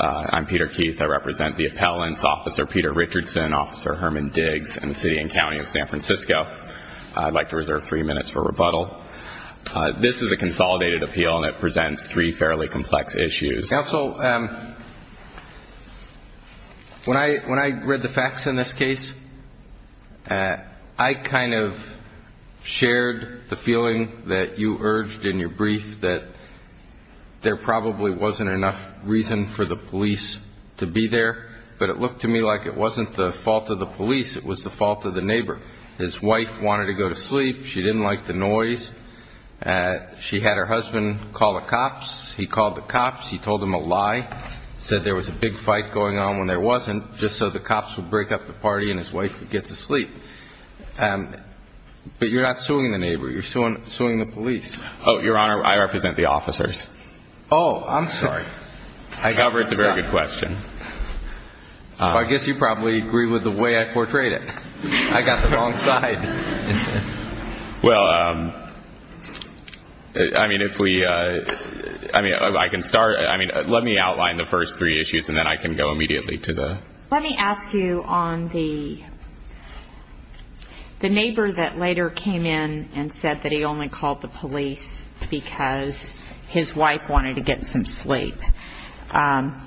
I'm Peter Keith, I represent the appellants, Officer Peter Richardson, Officer Herman Diggs, and the City and County of San Francisco. I'd like to reserve three minutes for rebuttal. This is a consolidated appeal and it presents three fairly complex issues. Counsel, when I read the facts in this case, I kind of shared the feeling that you urged in your brief that there probably wasn't enough reason for the police to be there, but it looked to me like it wasn't the fault of the police, it was the fault of the neighbor. His wife wanted to go to sleep, she didn't like the noise, she had her husband call the cops, he called the cops, he told them a lie, said there was a big fight going on when there wasn't, just so the cops would break up the party and his wife would get to sleep. But you're not suing the neighbor, you're suing the police. Oh, Your Honor, I represent the officers. Oh, I'm sorry. I cover it, it's a very good question. I guess you probably agree with the way I portrayed it. I got the wrong side. Well, I mean, if we, I mean, I can start, I mean, let me outline the first three issues and then I can go immediately to the... because his wife wanted to get some sleep. How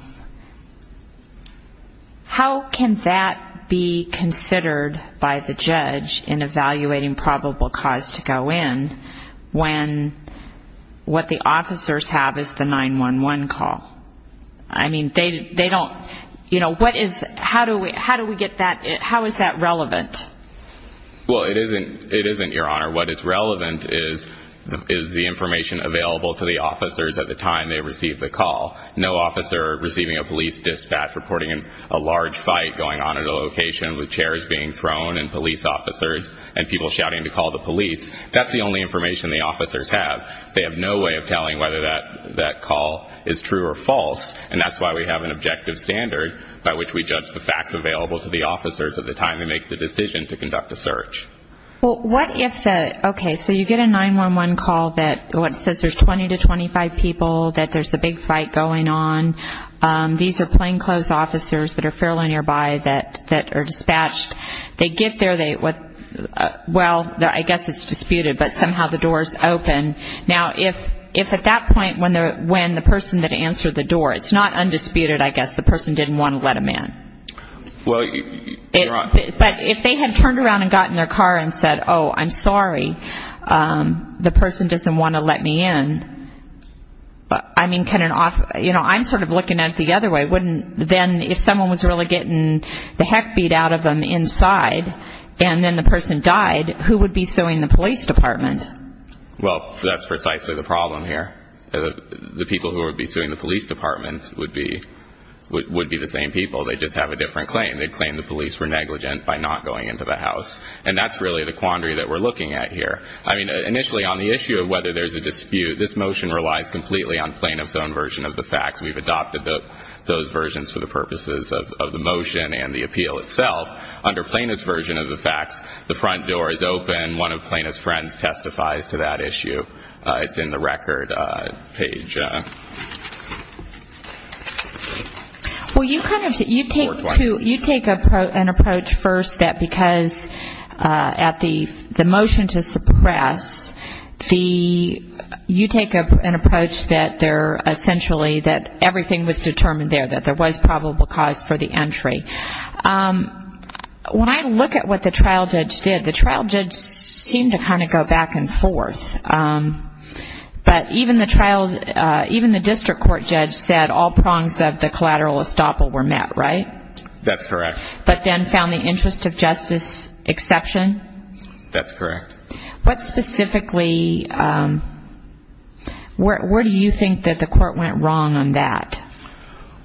can that be considered by the judge in evaluating probable cause to go in when what the officers have is the 911 call? I mean, they don't, you know, what is, how do we get that, how is that relevant? Well, it isn't, it isn't, Your Honor. What is relevant is the information available to the officers at the time they receive the call. No officer receiving a police dispatch reporting a large fight going on at a location with chairs being thrown and police officers and people shouting to call the police, that's the only information the officers have. They have no way of telling whether that call is true or false and that's why we have an objective standard by which we judge the facts available to the officers at the time they make the decision to conduct a search. Well, what if the, okay, so you get a 911 call that says there's 20 to 25 people, that there's a big fight going on. These are plainclothes officers that are fairly nearby that are dispatched. They get there, they, well, I guess it's disputed, but somehow the door is open. Now, if at that point when the person that answered the door, it's not undisputed, I guess, the person didn't want to let him in. Well, Your Honor. But if they had turned around and got in their car and said, oh, I'm sorry, the person doesn't want to let me in, I mean, can an officer, you know, I'm sort of looking at it the other way, wouldn't then if someone was really getting the heck beat out of them inside and then the person died, who would be suing the police department? Well, that's precisely the problem here. The people who would be suing the police department would be the same people. They'd just have a different claim. They'd claim the police were negligent by not going into the house. And that's really the quandary that we're looking at here. I mean, initially on the issue of whether there's a dispute, this motion relies completely on plaintiff's own version of the facts. We've adopted those versions for the purposes of the motion and the appeal itself. Under plaintiff's version of the facts, the front door is open, one of plaintiff's friends testifies to that issue. It's in the record page. Well, you kind of, you take an approach first that because at the motion to suppress, you take an approach that they're essentially, that everything was determined there, that there was probable cause for the entry. When I look at what the trial judge did, the trial judge seemed to kind of go back and forth. But even the district court judge said all prongs of the collateral estoppel were met, right? That's correct. But then found the interest of justice exception? That's correct. What specifically, where do you think that the court went wrong on that?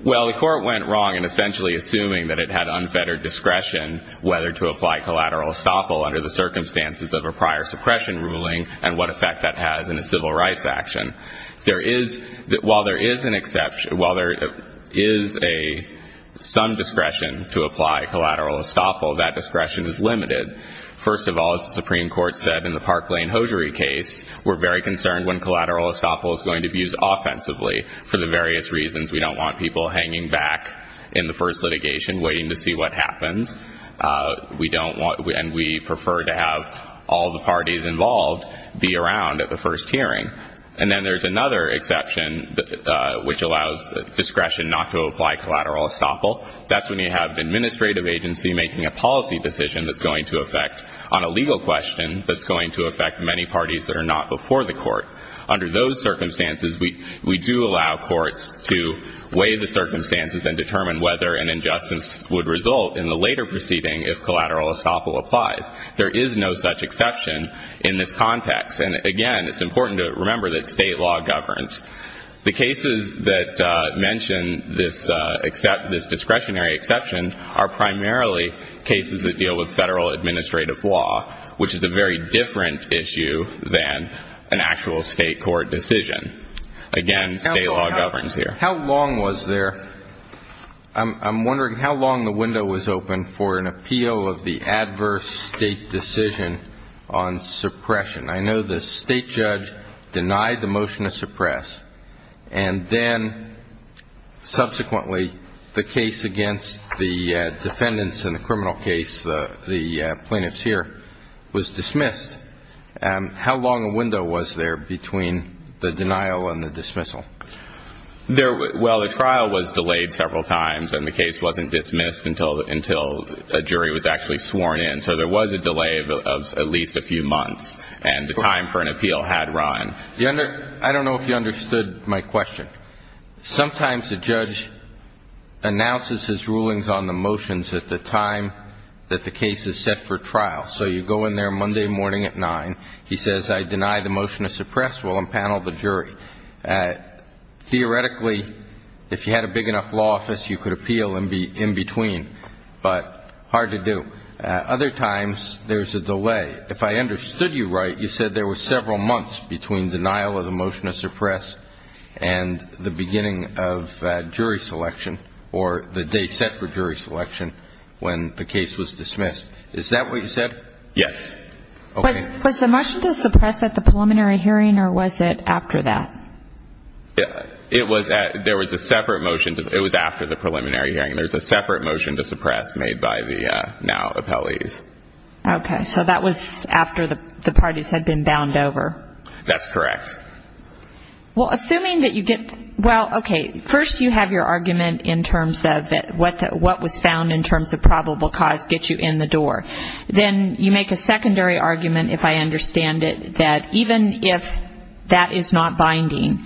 Well, the court went wrong in essentially assuming that it had unfettered discretion whether to apply collateral estoppel under the circumstances of a prior suppression ruling and what effect that has in a civil rights action. There is, while there is an exception, while there is some discretion to apply collateral estoppel, that discretion is limited. First of all, as the Supreme Court said in the Park Lane Hosiery case, we're very concerned when collateral estoppel is going to be used offensively for the various reasons. We don't want people hanging back in the first litigation waiting to see what happens. We don't want, and we prefer to have all the parties involved be around at the first hearing. And then there's another exception which allows discretion not to apply collateral estoppel. That's when you have an administrative agency making a policy decision that's going to affect on a legal question that's going to affect many parties that are not before the court. Under those circumstances, we do allow courts to weigh the circumstances and determine whether an injustice would result in the later proceeding if collateral estoppel applies. There is no such exception in this context. And again, it's important to remember that state law governs. The cases that mention this discretionary exception are primarily cases that deal with federal administrative law, which is a very different issue than an actual state court decision. Again, state law governs here. How long was there? I'm wondering how long the window was open for an appeal of the adverse state decision on suppression. I know the state judge denied the motion to suppress, and then subsequently the case against the defendants in the criminal case, the plaintiffs here, was dismissed. How long a window was there between the denial and the dismissal? Well, the trial was delayed several times, and the case wasn't dismissed until a jury was actually sworn in. So there was a delay of at least a few months, and the time for an appeal had run. I don't know if you understood my question. Sometimes the judge announces his rulings on the motions at the time that the case is set for trial. So you go in there Monday morning at 9. He says, I deny the motion to suppress. We'll unpanel the jury. Theoretically, if you had a big enough law office, you could appeal in between, but hard to do. Other times there's a delay. If I understood you right, you said there were several months between denial of the motion to suppress and the beginning of jury selection or the day set for jury selection when the case was dismissed. Is that what you said? Yes. Okay. Was the motion to suppress at the preliminary hearing, or was it after that? It was at the preliminary hearing. There's a separate motion to suppress made by the now appellees. Okay. So that was after the parties had been bound over. That's correct. Well, assuming that you get the ‑‑ well, okay, first you have your argument in terms of what was found in terms of probable cause gets you in the door. Then you make a secondary argument, if I understand it, that even if that is not binding,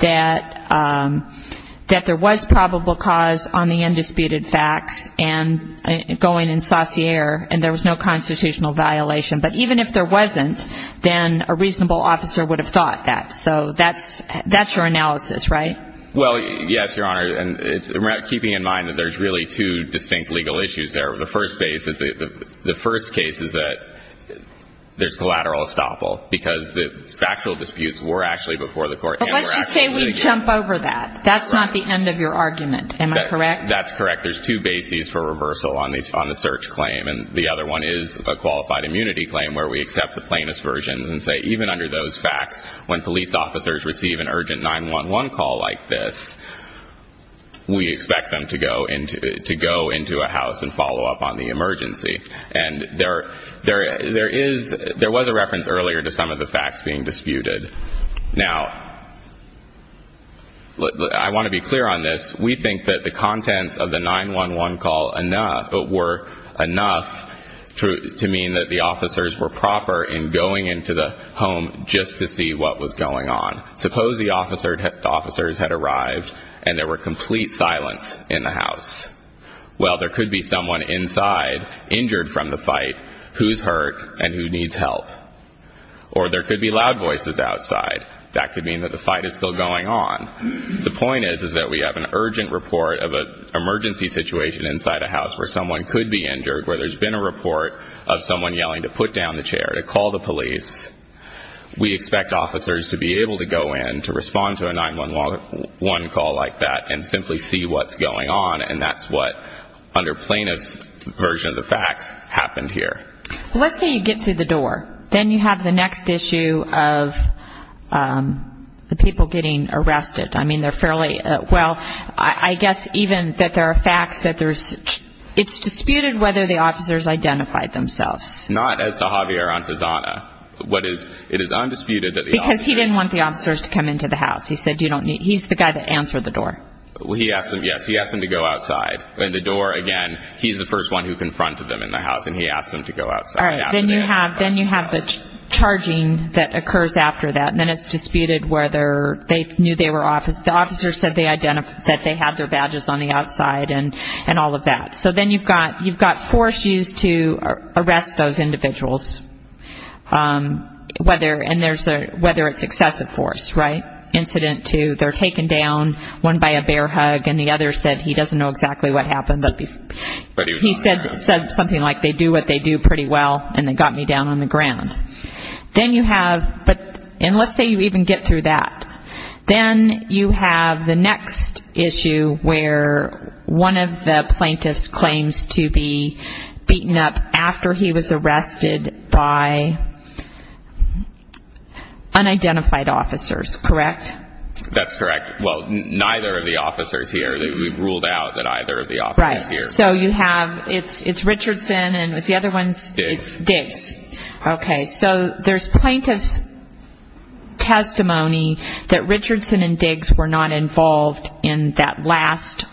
that there was probable cause on the undisputed facts and going in sociere and there was no constitutional violation. But even if there wasn't, then a reasonable officer would have thought that. So that's your analysis, right? Well, yes, Your Honor. And keeping in mind that there's really two distinct legal issues there. The first case is that there's collateral estoppel because the factual disputes were actually before the court. Well, let's just say we jump over that. That's not the end of your argument. Am I correct? That's correct. There's two bases for reversal on the search claim. And the other one is a qualified immunity claim where we accept the plainest version and say even under those facts, when police officers receive an urgent 911 call like this, we expect them to go into a house and follow up on the emergency. And there was a reference earlier to some of the facts being disputed. Now, I want to be clear on this. We think that the contents of the 911 call were enough to mean that the officers were proper in going into the home just to see what was going on. Suppose the officers had arrived and there were complete silence in the house. Well, there could be someone inside injured from the fight who's hurt and who needs help. Or there could be loud voices outside. That could mean that the fight is still going on. The point is that we have an urgent report of an emergency situation inside a house where someone could be injured, where there's been a report of someone yelling to put down the chair, to call the police. We expect officers to be able to go in to respond to a 911 call like that and simply see what's going on, and that's what, under plainest version of the facts, happened here. Let's say you get through the door. Then you have the next issue of the people getting arrested. I mean, they're fairly, well, I guess even that there are facts that there's, it's disputed whether the officers identified themselves. Not as to Javier Antezana. What is, it is undisputed that the officers. Because he didn't want the officers to come into the house. He said you don't need, he's the guy that answered the door. He asked them, yes, he asked them to go outside. And the door, again, he's the first one who confronted them in the house, and he asked them to go outside. Then you have the charging that occurs after that, and then it's disputed whether they knew they were officers. The officers said they had their badges on the outside and all of that. So then you've got force used to arrest those individuals, whether it's excessive force, right? Incident two, they're taken down, one by a bear hug, and the other said he doesn't know exactly what happened, but he said something like they do what they do pretty well, and they got me down on the ground. Then you have, and let's say you even get through that. Then you have the next issue where one of the plaintiffs claims to be beaten up after he was arrested by unidentified officers, correct? That's correct. Well, neither of the officers here. We've ruled out that either of the officers here. Right. So you have, it's Richardson, and is the other one? Diggs. Diggs. Okay. So there's plaintiff's testimony that Richardson and Diggs were not involved in that last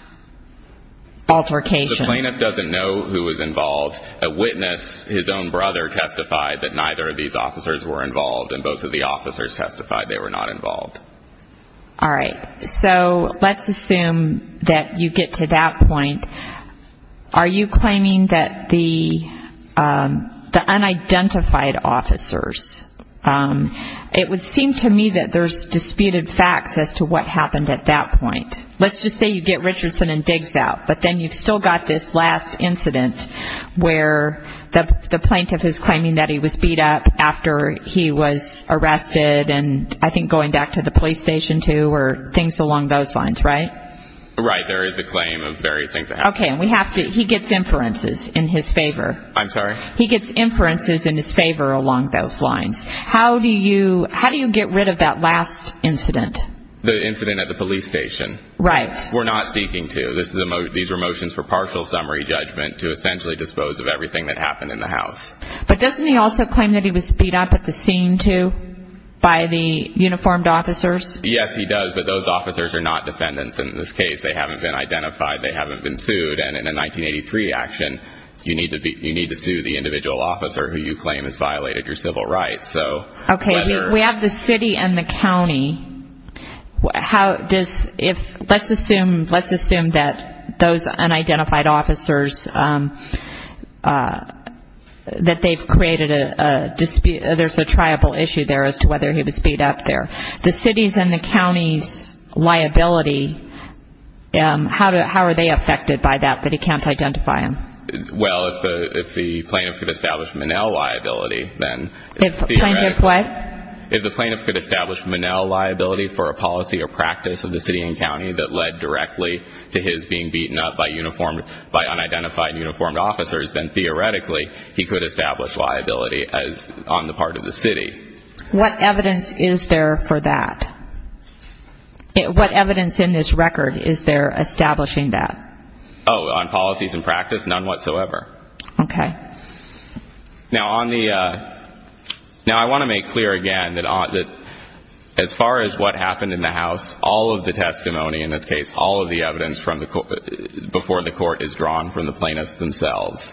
altercation. The plaintiff doesn't know who was involved. A witness, his own brother, testified that neither of these officers were involved, and both of the officers testified they were not involved. All right. So let's assume that you get to that point. Are you claiming that the unidentified officers, it would seem to me that there's disputed facts as to what happened at that point. Let's just say you get Richardson and Diggs out, but then you've still got this last incident where the plaintiff is claiming that he was beat up after he was arrested and I think going back to the police station, too, or things along those lines, right? Right. There is a claim of various things that happened. Okay. And we have to, he gets inferences in his favor. I'm sorry? He gets inferences in his favor along those lines. How do you get rid of that last incident? The incident at the police station. Right. We're not speaking to. These were motions for partial summary judgment to essentially dispose of everything that happened in the house. But doesn't he also claim that he was beat up at the scene, too, by the uniformed officers? Yes, he does. But those officers are not defendants in this case. They haven't been identified. They haven't been sued. And in a 1983 action, you need to sue the individual officer who you claim has violated your civil rights. So whether. Okay. We have the city and the county. Let's assume that those unidentified officers, that they've created a dispute. There's a triable issue there as to whether he was beat up there. The city's and the county's liability, how are they affected by that, that he can't identify him? Well, if the plaintiff could establish Manel liability, then. Plaintiff what? If the plaintiff could establish Manel liability for a policy or practice of the city and county that led directly to his being beaten up by unidentified uniformed officers, then theoretically he could establish liability on the part of the city. What evidence is there for that? What evidence in this record is there establishing that? Oh, on policies and practice? None whatsoever. Okay. Now, on the. Now, I want to make clear again that as far as what happened in the house, all of the testimony, in this case, all of the evidence before the court is drawn from the plaintiffs themselves.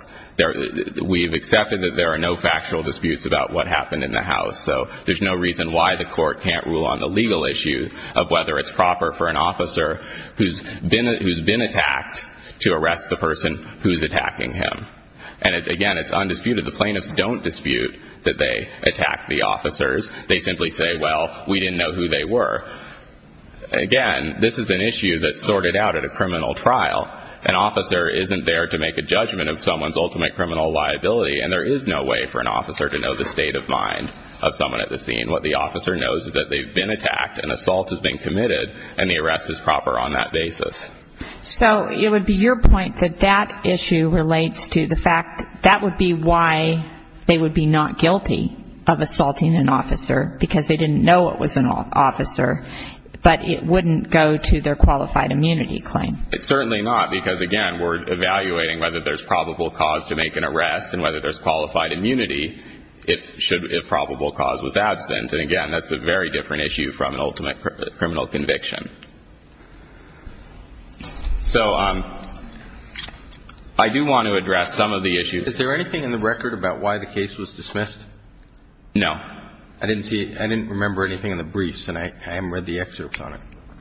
We have accepted that there are no factual disputes about what happened in the house, so there's no reason why the court can't rule on the legal issue of whether it's proper for an officer who's been attacked to arrest the person who's attacking him. And, again, it's undisputed. The plaintiffs don't dispute that they attacked the officers. They simply say, well, we didn't know who they were. Again, this is an issue that's sorted out at a criminal trial. An officer isn't there to make a judgment of someone's ultimate criminal liability, and there is no way for an officer to know the state of mind of someone at the scene. What the officer knows is that they've been attacked, an assault has been committed, and the arrest is proper on that basis. So it would be your point that that issue relates to the fact that would be why they would be not guilty of assaulting an officer, because they didn't know it was an officer, but it wouldn't go to their qualified immunity claim. It's certainly not, because, again, we're evaluating whether there's probable cause to make an arrest and whether there's qualified immunity if probable cause was absent. And, again, that's a very different issue from an ultimate criminal conviction. So I do want to address some of the issues. Is there anything in the record about why the case was dismissed? No. I didn't see it. I didn't remember anything in the briefs, and I haven't read the excerpts on it.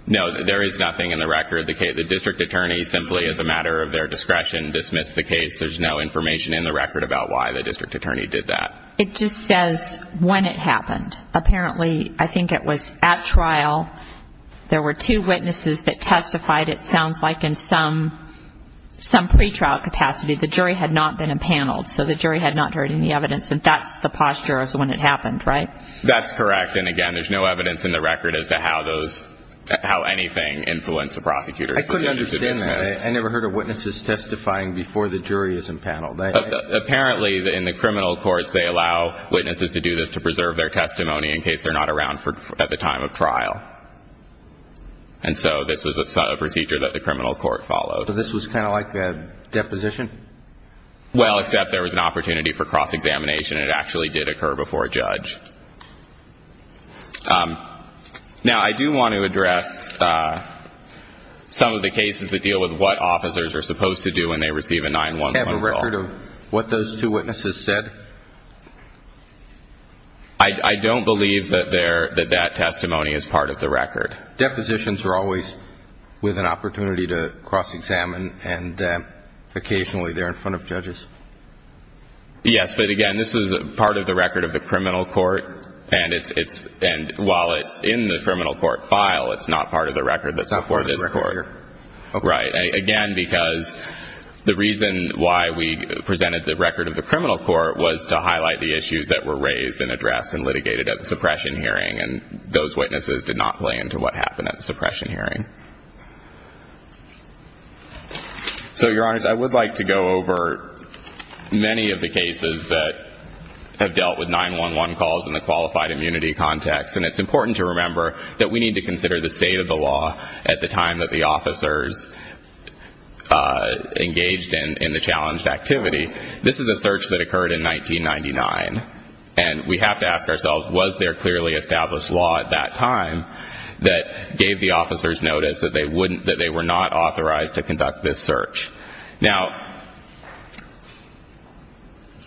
No, there is nothing in the record. The district attorney simply, as a matter of their discretion, dismissed the case. There's no information in the record about why the district attorney did that. It just says when it happened. Apparently, I think it was at trial. There were two witnesses that testified, it sounds like, in some pretrial capacity. The jury had not been impaneled, so the jury had not heard any evidence, and that's the posture as to when it happened, right? That's correct. And, again, there's no evidence in the record as to how anything influenced the prosecutor's decision to dismiss. I couldn't understand that. I never heard of witnesses testifying before the jury is impaneled. Apparently, in the criminal courts, they allow witnesses to do this to preserve their testimony in case they're not around at the time of trial. And so this was a procedure that the criminal court followed. So this was kind of like a deposition? Well, except there was an opportunity for cross-examination, and it actually did occur before a judge. Now, I do want to address some of the cases that deal with what officers are supposed to do when they receive a 9-1-1 call. Is there a record of what those two witnesses said? I don't believe that that testimony is part of the record. Depositions are always with an opportunity to cross-examine, and occasionally they're in front of judges. Yes, but, again, this is part of the record of the criminal court, and while it's in the criminal court file, it's not part of the record that's before this court. It's not part of the record here. Right. Again, because the reason why we presented the record of the criminal court was to highlight the issues that were raised and addressed and litigated at the suppression hearing, and those witnesses did not play into what happened at the suppression hearing. So, Your Honors, I would like to go over many of the cases that have dealt with 9-1-1 calls in the qualified immunity context, and it's important to remember that we need to consider the state of the law at the time that the officers engaged in the challenged activity. This is a search that occurred in 1999, and we have to ask ourselves, was there clearly established law at that time that gave the officers notice that they were not authorized to conduct this search? Now,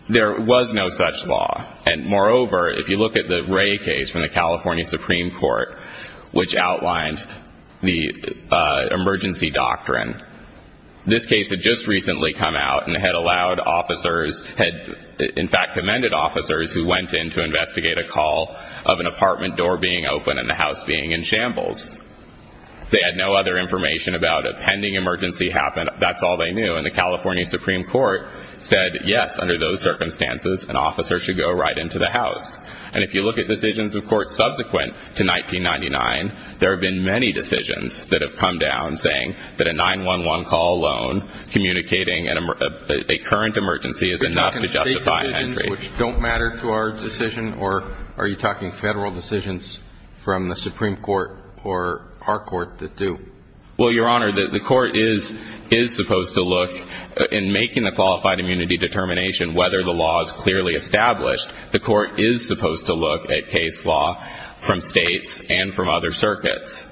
there was no such law. And, moreover, if you look at the Ray case from the California Supreme Court, which outlined the emergency doctrine, this case had just recently come out and had allowed officers, had in fact commended officers, who went in to investigate a call of an apartment door being open and the house being in shambles. They had no other information about a pending emergency happened. That's all they knew. And the California Supreme Court said, yes, under those circumstances, an officer should go right into the house. And if you look at decisions of court subsequent to 1999, there have been many decisions that have come down saying that a 9-1-1 call alone communicating a current emergency is enough to justify entry. Which don't matter to our decision, or are you talking federal decisions from the Supreme Court or our court that do? Well, Your Honor, the court is supposed to look in making a qualified immunity determination whether the law is clearly established. The court is supposed to look at case law from states and from other circuits,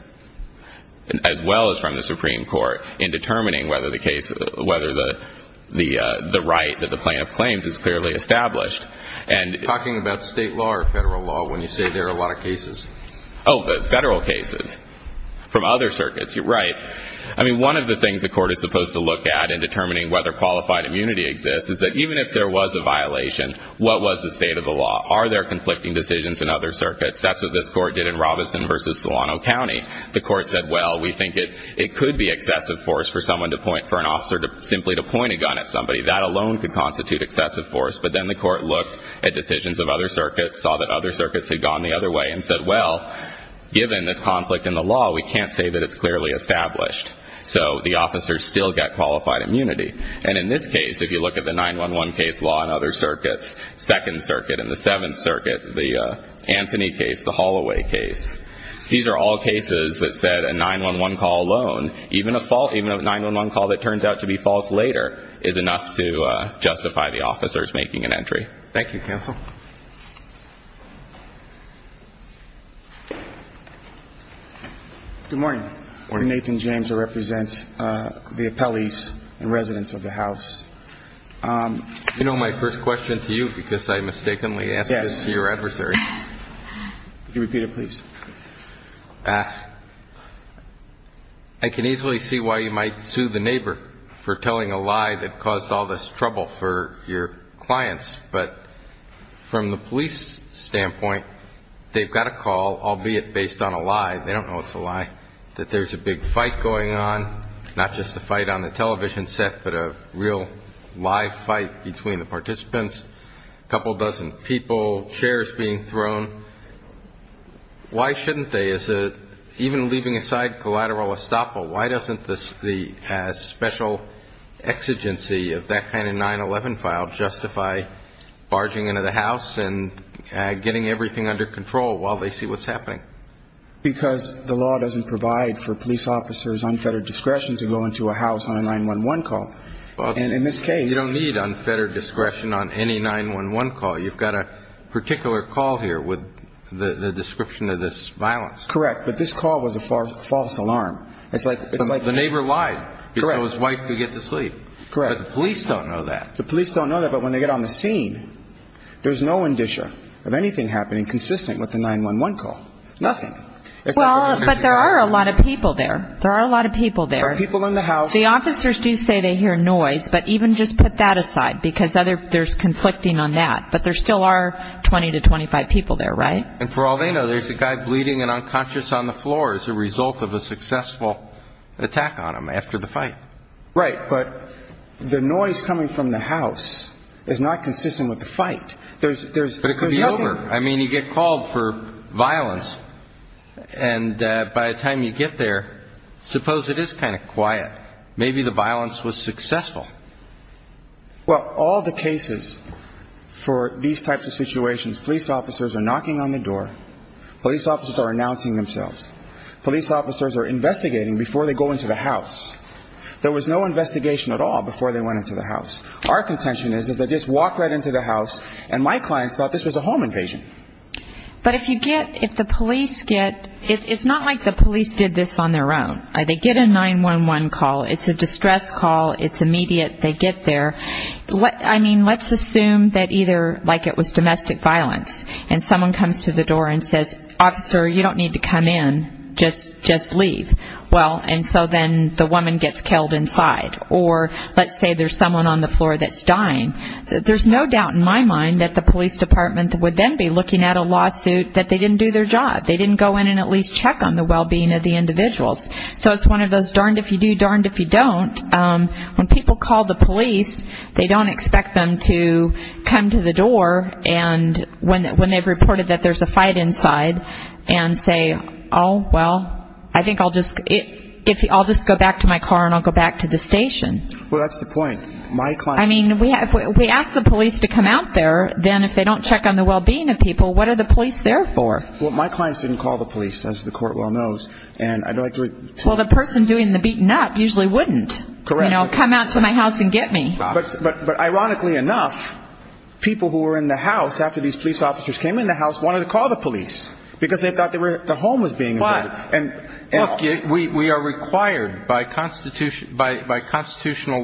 as well as from the Supreme Court, in determining whether the right that the plaintiff claims is clearly established. Are you talking about state law or federal law when you say there are a lot of cases? Oh, federal cases from other circuits. You're right. I mean, one of the things the court is supposed to look at in determining whether qualified immunity exists is that even if there was a violation, what was the state of the law? Are there conflicting decisions in other circuits? That's what this court did in Robeson v. Solano County. The court said, well, we think it could be excessive force for an officer simply to point a gun at somebody. That alone could constitute excessive force. But then the court looked at decisions of other circuits, saw that other circuits had gone the other way, and said, well, given this conflict in the law, we can't say that it's clearly established. So the officers still get qualified immunity. And in this case, if you look at the 9-1-1 case law in other circuits, Second Circuit and the Seventh Circuit, the Anthony case, the Holloway case, these are all cases that said a 9-1-1 call alone, even a 9-1-1 call that turns out to be false later, is enough to justify the officers making an entry. Thank you, counsel. Good morning. Good morning. I'm Nathan James. I represent the appellees and residents of the house. You know, my first question to you, because I mistakenly asked it to your adversary. Yes. Could you repeat it, please? I can easily see why you might sue the neighbor for telling a lie that caused all this trouble for your clients. But from the police standpoint, they've got a call, albeit based on a lie, they don't know it's a lie, that there's a big fight going on, not just a fight on the television set, but a real live fight between the participants, a couple dozen people, chairs being thrown. Why shouldn't they, even leaving aside collateral estoppel, why doesn't the special exigency of that kind of 9-11 file justify barging into the house and getting everything under control while they see what's happening? Because the law doesn't provide for police officers' unfettered discretion to go into a house on a 9-1-1 call. And in this case you don't need unfettered discretion on any 9-1-1 call. You've got a particular call here with the description of this violence. Correct. But this call was a false alarm. It's like the neighbor lied so his wife could get to sleep. Correct. But the police don't know that. The police don't know that. But when they get on the scene, there's no indicia of anything happening consistent with the 9-1-1 call, nothing. Well, but there are a lot of people there. There are a lot of people there. There are people in the house. The officers do say they hear noise, but even just put that aside because there's conflicting on that. But there still are 20 to 25 people there, right? And for all they know, there's a guy bleeding and unconscious on the floor as a result of a successful attack on him after the fight. Right. But the noise coming from the house is not consistent with the fight. There's nothing. But it could be over. I mean, you get called for violence, and by the time you get there, suppose it is kind of quiet. Maybe the violence was successful. Well, all the cases for these types of situations, police officers are knocking on the door. Police officers are announcing themselves. Police officers are investigating before they go into the house. There was no investigation at all before they went into the house. Our contention is they just walked right into the house, and my clients thought this was a home invasion. But if you get the police get, it's not like the police did this on their own. They get a 911 call. It's a distress call. It's immediate. They get there. I mean, let's assume that either, like it was domestic violence, and someone comes to the door and says, Officer, you don't need to come in. Just leave. Well, and so then the woman gets killed inside. Or let's say there's someone on the floor that's dying. There's no doubt in my mind that the police department would then be looking at a lawsuit that they didn't do their job. They didn't go in and at least check on the well-being of the individuals. So it's one of those darned if you do, darned if you don't. When people call the police, they don't expect them to come to the door and when they've reported that there's a fight inside and say, oh, well, I think I'll just go back to my car and I'll go back to the station. Well, that's the point. I mean, if we ask the police to come out there, then if they don't check on the well-being of people, what are the police there for? Well, my clients didn't call the police, as the court well knows. And I'd like to – Well, the person doing the beating up usually wouldn't. Correct. You know, come out to my house and get me. But ironically enough, people who were in the house after these police officers came in the house wanted to call the police because they thought the home was being invaded. Look, we are required by constitutional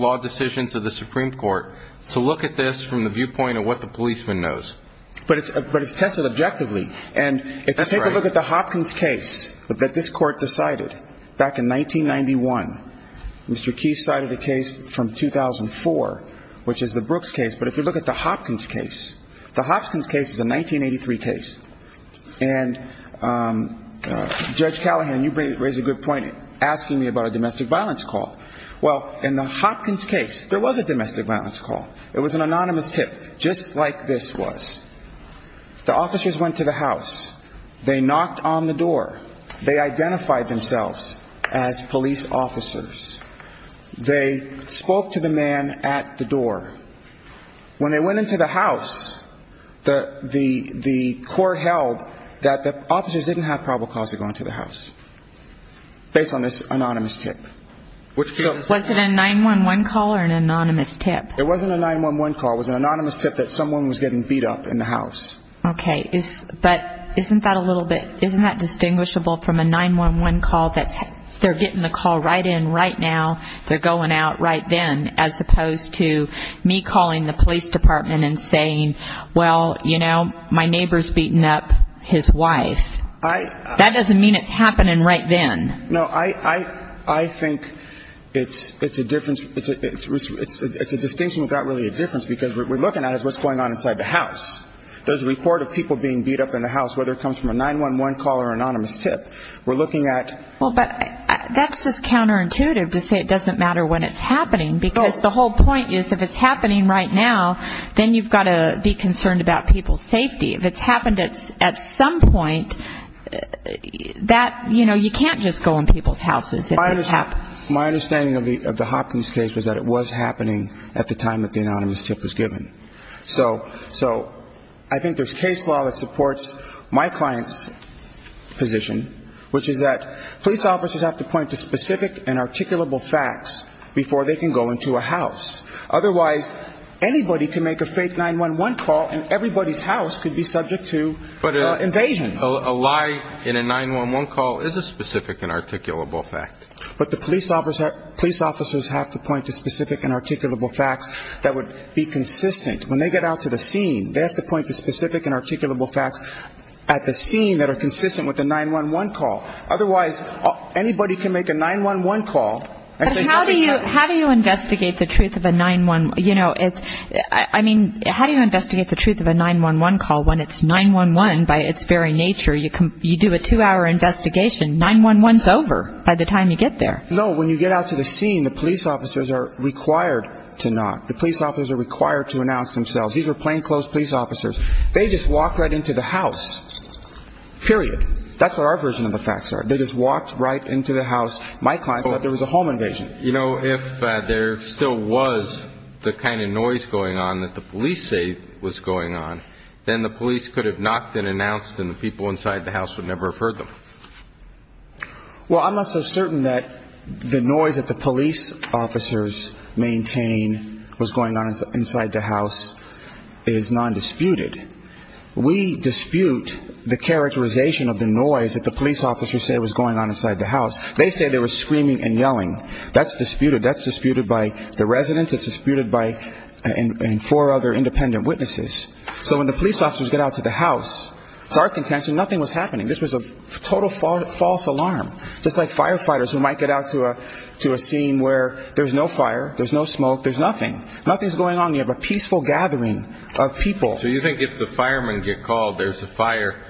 law decisions of the Supreme Court to look at this from the viewpoint of what the policeman knows. But it's tested objectively. And if you take a look at the Hopkins case that this court decided back in 1991, Mr. Keith cited a case from 2004, which is the Brooks case. But if you look at the Hopkins case, the Hopkins case is a 1983 case. And Judge Callahan, you raise a good point asking me about a domestic violence call. Well, in the Hopkins case, there was a domestic violence call. It was an anonymous tip, just like this was. The officers went to the house. They knocked on the door. They identified themselves as police officers. They spoke to the man at the door. When they went into the house, the court held that the officers didn't have probable cause to go into the house based on this anonymous tip. Was it a 911 call or an anonymous tip? It wasn't a 911 call. It was an anonymous tip that someone was getting beat up in the house. Okay. But isn't that a little bit, isn't that distinguishable from a 911 call that they're getting the call right in right now, they're going out right then, as opposed to me calling the police department and saying, well, you know, my neighbor's beating up his wife. That doesn't mean it's happening right then. No, I think it's a distinction without really a difference, because what we're looking at is what's going on inside the house. There's a report of people being beat up in the house, whether it comes from a 911 call or anonymous tip. We're looking at ---- Well, but that's just counterintuitive to say it doesn't matter when it's happening, because the whole point is if it's happening right now, then you've got to be concerned about people's safety. If it's happened at some point, that, you know, you can't just go in people's houses. My understanding of the Hopkins case was that it was happening at the time that the anonymous tip was given. So I think there's case law that supports my client's position, which is that police officers have to point to specific and articulable facts before they can go into a house. Otherwise, anybody can make a fake 911 call, and everybody's house could be subject to invasion. But a lie in a 911 call is a specific and articulable fact. But the police officers have to point to specific and articulable facts that would be consistent. When they get out to the scene, they have to point to specific and articulable facts at the scene that are consistent with the 911 call. Otherwise, anybody can make a 911 call and say, How do you investigate the truth of a 911 call when it's 911 by its very nature? You do a two-hour investigation. 911's over by the time you get there. No, when you get out to the scene, the police officers are required to not. The police officers are required to announce themselves. These were plainclothes police officers. They just walked right into the house, period. That's what our version of the facts are. They just walked right into the house. My client said there was a home invasion. You know, if there still was the kind of noise going on that the police say was going on, then the police could have knocked and announced, and the people inside the house would never have heard them. Well, I'm not so certain that the noise that the police officers maintain was going on inside the house is nondisputed. We dispute the characterization of the noise that the police officers say was going on inside the house. They say they were screaming and yelling. That's disputed. That's disputed by the residents. It's disputed by four other independent witnesses. So when the police officers get out to the house, dark intentions, nothing was happening. This was a total false alarm, just like firefighters who might get out to a scene where there's no fire, there's no smoke, there's nothing. Nothing's going on. You have a peaceful gathering of people. So you think if the firemen get called, there's a fire,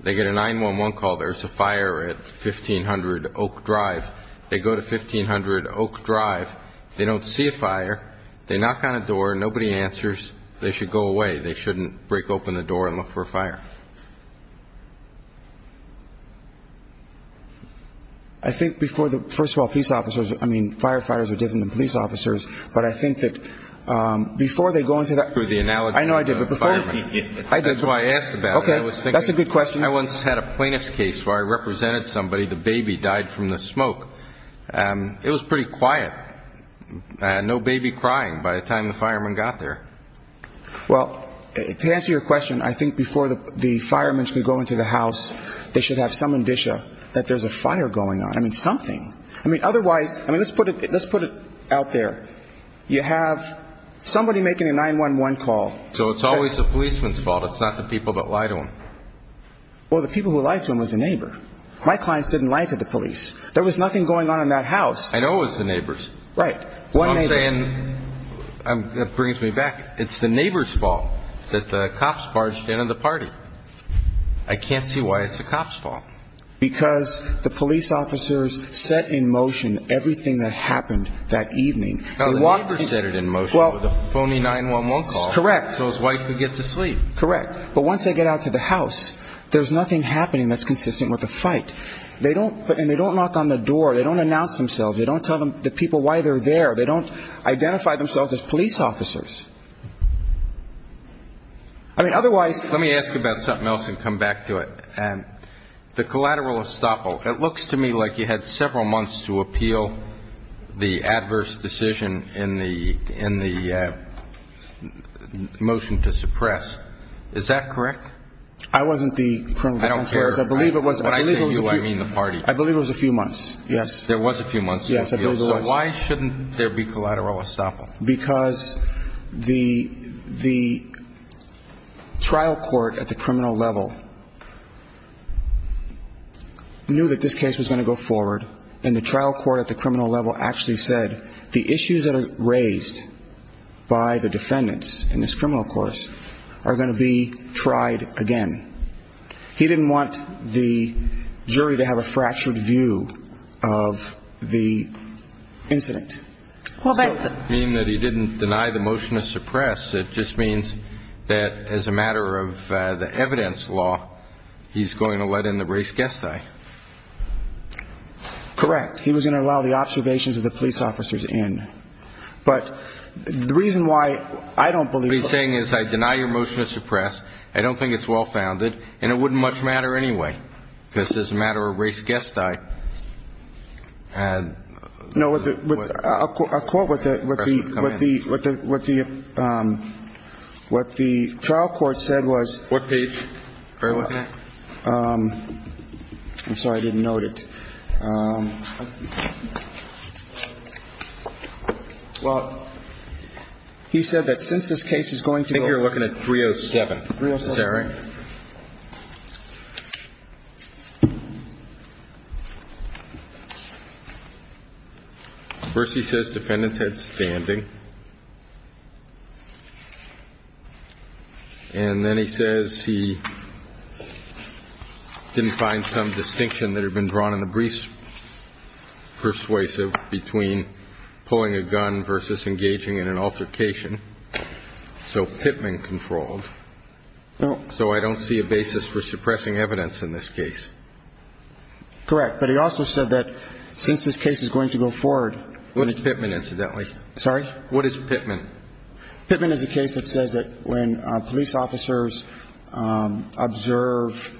they get a 911 call, there's a fire at 1500 Oak Drive. They go to 1500 Oak Drive. They don't see a fire. They knock on a door. Nobody answers. They should go away. They shouldn't break open the door and look for a fire. I think before the, first of all, police officers, I mean, firefighters are different than police officers, but I think that before they go into the, I know I did, but before, I did. That's why I asked about it. That's a good question. I once had a plaintiff's case where I represented somebody. The baby died from the smoke. It was pretty quiet. No baby crying by the time the firemen got there. Well, to answer your question, I think before the firemen could go into the house, they should have some indicia that there's a fire going on. I mean, something. I mean, otherwise, I mean, let's put it out there. You have somebody making a 911 call. So it's always the policeman's fault. It's not the people that lie to them. Well, the people who lie to them is the neighbor. My clients didn't lie to the police. There was nothing going on in that house. I know it was the neighbor's. Right. So I'm saying, that brings me back, it's the neighbor's fault that the cops barged in on the party. I can't see why it's the cop's fault. Because the police officers set in motion everything that happened that evening. Now, the neighbor set it in motion with a phony 911 call. Correct. So his wife could get to sleep. Correct. But once they get out to the house, there's nothing happening that's consistent with the fight. And they don't knock on the door. They don't announce themselves. They don't tell the people why they're there. They don't identify themselves as police officers. I mean, otherwise. Let me ask about something else and come back to it. The collateral estoppel. It looks to me like you had several months to appeal the adverse decision in the motion to suppress. Is that correct? I wasn't the criminal counsel. I don't care. When I say you, I mean the party. I believe it was a few months. Yes. There was a few months. Yes, I believe there was. So why shouldn't there be collateral estoppel? Because the trial court at the criminal level knew that this case was going to go forward, and the trial court at the criminal level actually said the issues that are raised by the defendants in this criminal course are going to be tried again. He didn't want the jury to have a fractured view of the incident. Well, that doesn't mean that he didn't deny the motion to suppress. It just means that as a matter of the evidence law, he's going to let in the res gestae. Correct. He was going to allow the observations of the police officers in. But the reason why I don't believe it. What he's saying is I deny your motion to suppress, I don't think it's well-founded, and it wouldn't much matter anyway because as a matter of res gestae. I'll quote what the trial court said was. What page are you looking at? I'm sorry. I didn't note it. Well, he said that since this case is going to go. I think you're looking at 307. 307. Is that right? First, he says defendants had standing. And then he says he didn't find some distinction that had been drawn in the brief persuasive between pulling a gun versus engaging in an altercation. So I don't think that's true. So I don't see a basis for suppressing evidence in this case. Correct. But he also said that since this case is going to go forward. What is Pittman incidentally? Sorry? What is Pittman? Pittman is a case that says that when police officers observe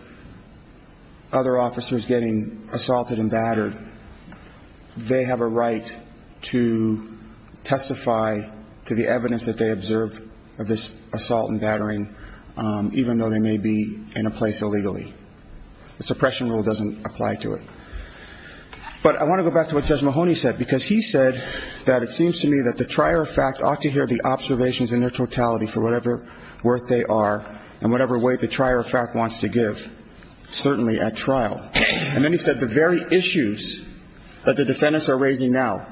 other officers getting assaulted and battered, they have a right to testify to the evidence that they observed of this assault and battering, even though they may be in a place illegally. The suppression rule doesn't apply to it. But I want to go back to what Judge Mahoney said, because he said that it seems to me that the trier of fact ought to hear the observations in their totality for whatever worth they are and whatever weight the trier of fact wants to give, certainly at trial. And then he said the very issues that the defendants are raising now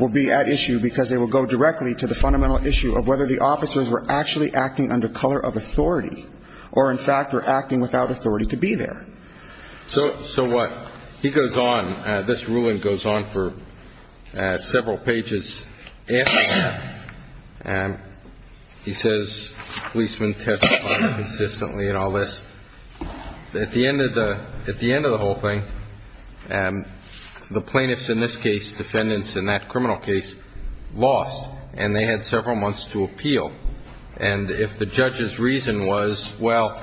will be at issue because they will go directly to the fundamental issue of whether the officers were actually acting under color of authority or, in fact, were acting without authority to be there. So what? He goes on. This ruling goes on for several pages after that. He says policemen testify consistently and all this. At the end of the whole thing, the plaintiffs in this case, defendants in that criminal case, lost, and they had several months to appeal. And if the judge's reason was, well,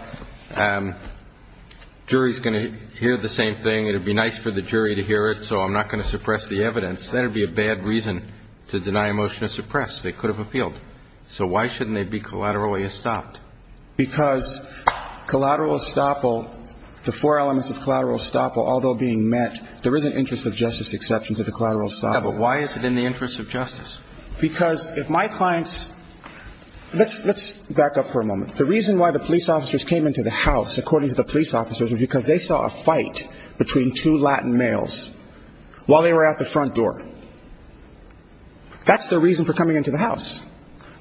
jury's going to hear the same thing, it would be nice for the jury to hear it so I'm not going to suppress the evidence, then it would be a bad reason to deny a motion to suppress. They could have appealed. So why shouldn't they be collaterally estopped? Because collateral estoppel, the four elements of collateral estoppel, although being met, there is an interest of justice exception to the collateral estoppel. Yeah, but why is it in the interest of justice? Because if my clients ñ let's back up for a moment. The reason why the police officers came into the house, according to the police officers, was because they saw a fight between two Latin males while they were at the front door. That's their reason for coming into the house.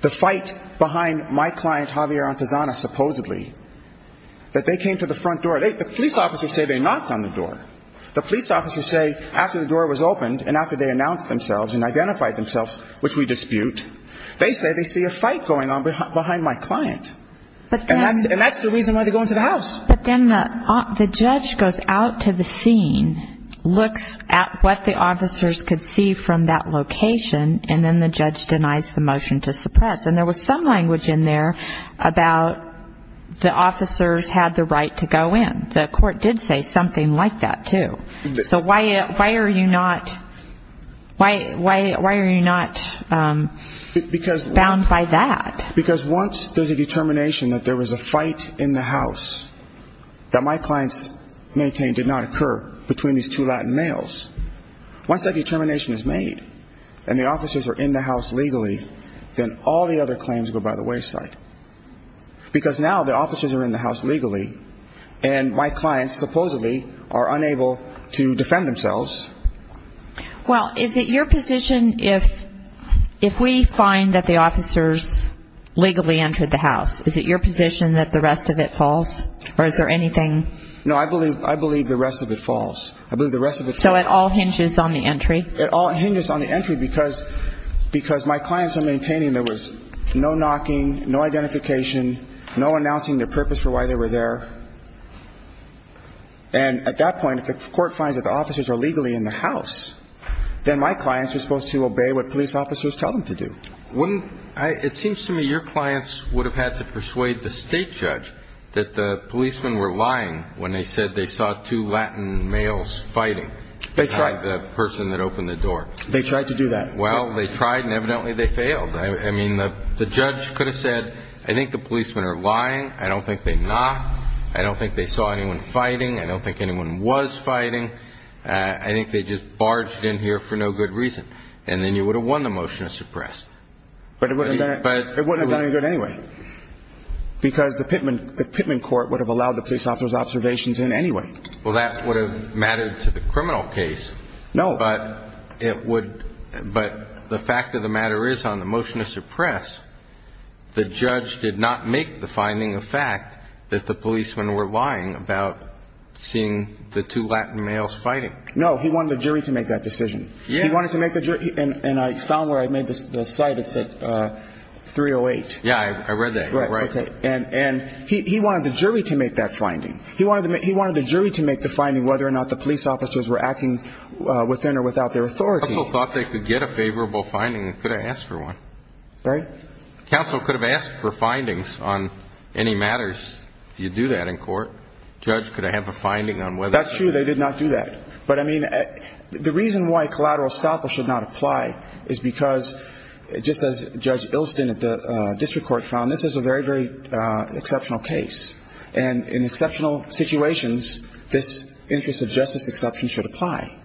The fight behind my client, Javier Antezana, supposedly, that they came to the front door. The police officers say they knocked on the door. The police officers say after the door was opened and after they announced themselves and identified themselves, which we dispute, they say they see a fight going on behind my client. And that's the reason why they go into the house. But then the judge goes out to the scene, looks at what the officers could see from that location, and then the judge denies the motion to suppress. And there was some language in there about the officers had the right to go in. The court did say something like that, too. So why are you not ñ why are you not bound by that? Because once there's a determination that there was a fight in the house that my clients maintained did not occur between these two Latin males, once that determination is made and the officers are in the house legally, then all the other claims go by the wayside. Because now the officers are in the house legally, and my clients supposedly are unable to defend themselves. Well, is it your position if we find that the officers legally entered the house, is it your position that the rest of it falls, or is there anything? No, I believe the rest of it falls. I believe the rest of it falls. So it all hinges on the entry? It all hinges on the entry because my clients are maintaining there was no knocking, no identification, no announcing their purpose for why they were there. And at that point, if the court finds that the officers are legally in the house, then my clients are supposed to obey what police officers tell them to do. Wouldn't ñ it seems to me your clients would have had to persuade the state judge that the policemen were lying when they said they saw two Latin males fighting. They tried. The person that opened the door. They tried to do that. Well, they tried, and evidently they failed. I mean, the judge could have said, I think the policemen are lying. I don't think they knocked. I don't think they saw anyone fighting. I don't think anyone was fighting. I think they just barged in here for no good reason, and then you would have won the motion to suppress. But it wouldn't have done any good anyway because the Pittman court would have allowed the police officers' observations in anyway. Well, that would have mattered to the criminal case. No. But it would ñ but the fact of the matter is on the motion to suppress, the judge did not make the finding of fact that the policemen were lying about seeing the two Latin males fighting. No. He wanted the jury to make that decision. Yes. He wanted to make the ñ and I found where I made the cite. It said 308. Yeah, I read that. Right, okay. And he wanted the jury to make that finding. He wanted the jury to make the finding whether or not the police officers were acting within or without their authority. Counsel thought they could get a favorable finding and could have asked for one. Right. Counsel could have asked for findings on any matters if you do that in court. Judge could have a finding on whether ñ That's true. They did not do that. But, I mean, the reason why collateral estoppel should not apply is because, just as Judge Ilston at the district court found, this is a very, very exceptional case. And in exceptional situations, this interest of justice exception should apply.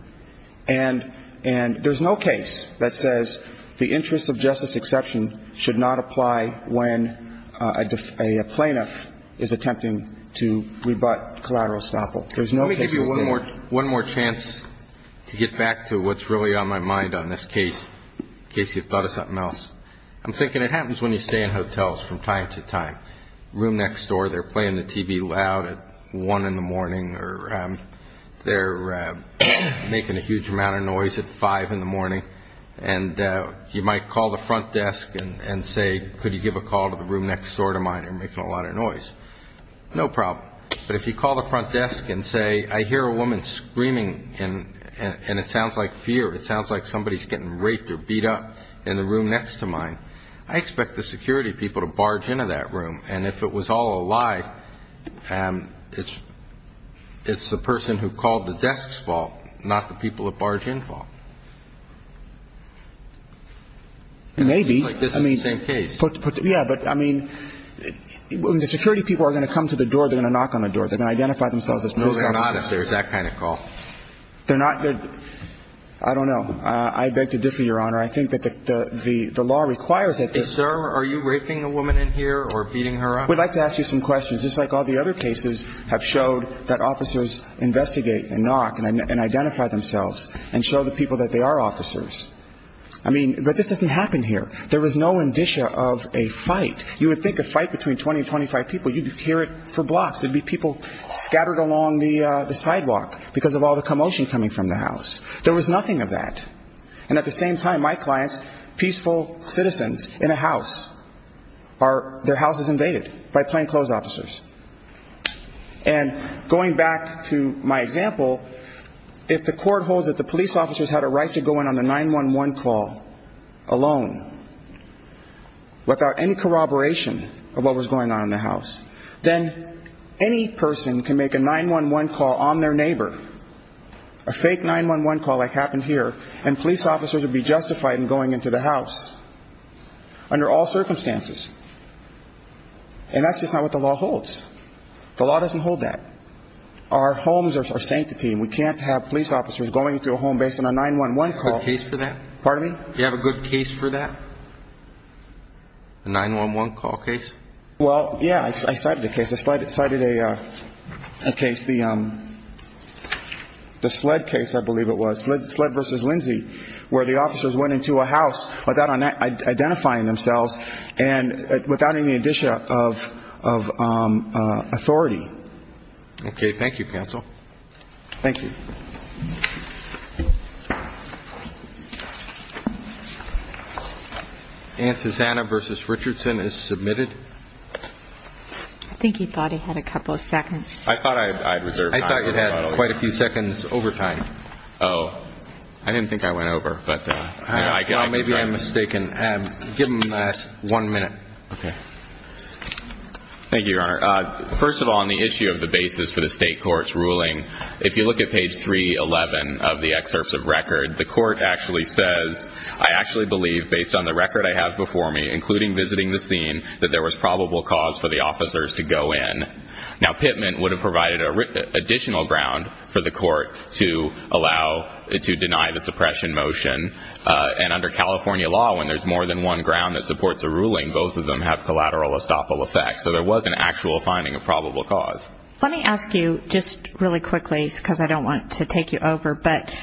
And there's no case that says the interest of justice exception should not apply when a plaintiff is attempting to rebut collateral estoppel. There's no case that says that. One more chance to get back to what's really on my mind on this case, in case you thought of something else. I'm thinking it happens when you stay in hotels from time to time. Room next door, they're playing the TV loud at 1 in the morning, or they're making a huge amount of noise at 5 in the morning. And you might call the front desk and say, could you give a call to the room next door to mine? You're making a lot of noise. No problem. But if you call the front desk and say, I hear a woman screaming, and it sounds like fear, it sounds like somebody's getting raped or beat up in the room next to mine, I expect the security people to barge into that room. And if it was all a lie, it's the person who called the desk's fault, not the people who barged in's fault. Maybe. I mean, this is the same case. Yeah, but, I mean, when the security people are going to come to the door, they're going to knock on the door. They're going to identify themselves as police officers. No, they're not, if there's that kind of call. They're not. I don't know. I beg to differ, Your Honor. I think that the law requires that the – Hey, sir, are you raping a woman in here or beating her up? We'd like to ask you some questions. Just like all the other cases have showed that officers investigate and knock and identify themselves and show the people that they are officers. I mean, but this doesn't happen here. There was no indicia of a fight. You would think a fight between 20 and 25 people, you'd hear it for blocks. There'd be people scattered along the sidewalk because of all the commotion coming from the house. There was nothing of that. And at the same time, my clients, peaceful citizens in a house, their house is invaded by plainclothes officers. And going back to my example, if the court holds that the police officers had a right to go in on the 9-1-1 call alone without any corroboration of what was going on in the house, then any person can make a 9-1-1 call on their neighbor, a fake 9-1-1 call like happened here, and police officers would be justified in going into the house under all circumstances. And that's just not what the law holds. The law doesn't hold that. Our homes are sanctity. We can't have police officers going into a home based on a 9-1-1 call. Do you have a good case for that? Pardon me? Do you have a good case for that? A 9-1-1 call case? Well, yeah, I cited a case. I cited a case, the SLED case, I believe it was, SLED v. Lindsay, where the officers went into a house without identifying themselves and without any addition of authority. Okay. Thank you, counsel. Thank you. Antizana v. Richardson is submitted. I think he thought he had a couple of seconds. I thought I had quite a few seconds over time. Oh. I didn't think I went over, but maybe I'm mistaken. Give him one minute. Okay. Thank you, Your Honor. First of all, on the issue of the basis for the state court's ruling, if you look at page 311 of the excerpts of record, the court actually says, I actually believe, based on the record I have before me, including visiting the scene, that there was probable cause for the officers to go in. Now, Pittman would have provided additional ground for the court to allow, to deny the suppression motion. And under California law, when there's more than one ground that supports a ruling, both of them have collateral estoppel effect. So there was an actual finding of probable cause. Let me ask you, just really quickly, because I don't want to take you over, but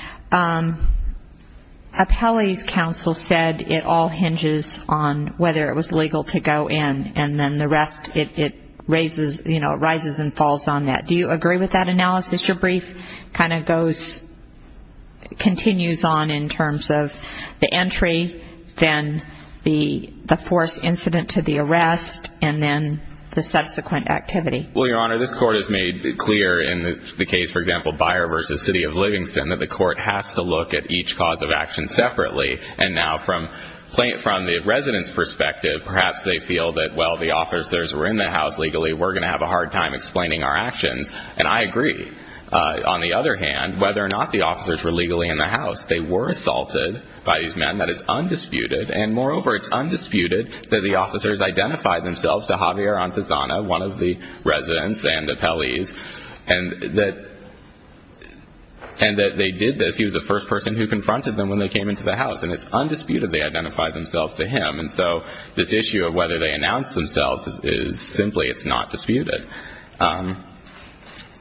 Appellee's counsel said it all hinges on whether it was legal to go in, and then the rest, it rises and falls on that. Do you agree with that analysis? Because your brief kind of goes, continues on in terms of the entry, then the forced incident to the arrest, and then the subsequent activity. Well, Your Honor, this court has made clear in the case, for example, Byer v. City of Livingston, that the court has to look at each cause of action separately. And now from the resident's perspective, perhaps they feel that, well, the officers were in the house legally. We're going to have a hard time explaining our actions. And I agree. On the other hand, whether or not the officers were legally in the house, they were assaulted by these men. That is undisputed. And moreover, it's undisputed that the officers identified themselves to Javier Antezana, one of the residents and Appellees, and that they did this. He was the first person who confronted them when they came into the house. And it's undisputed they identified themselves to him. And so this issue of whether they announced themselves is simply it's not disputed.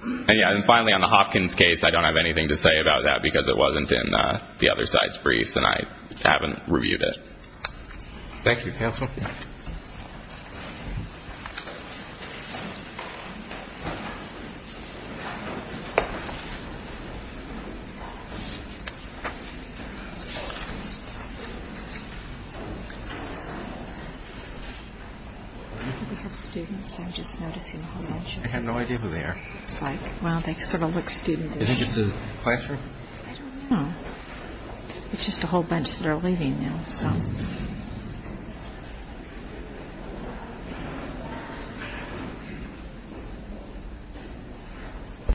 And finally, on the Hopkins case, I don't have anything to say about that because it wasn't in the other side's briefs and I haven't reviewed it. Thank you, Counsel. We have students. I'm just noticing a whole bunch. I had no idea who they are. It's like, well, they sort of look student-ish. Do you think it's a classroom? I don't know. It's just a whole bunch that are leaving now.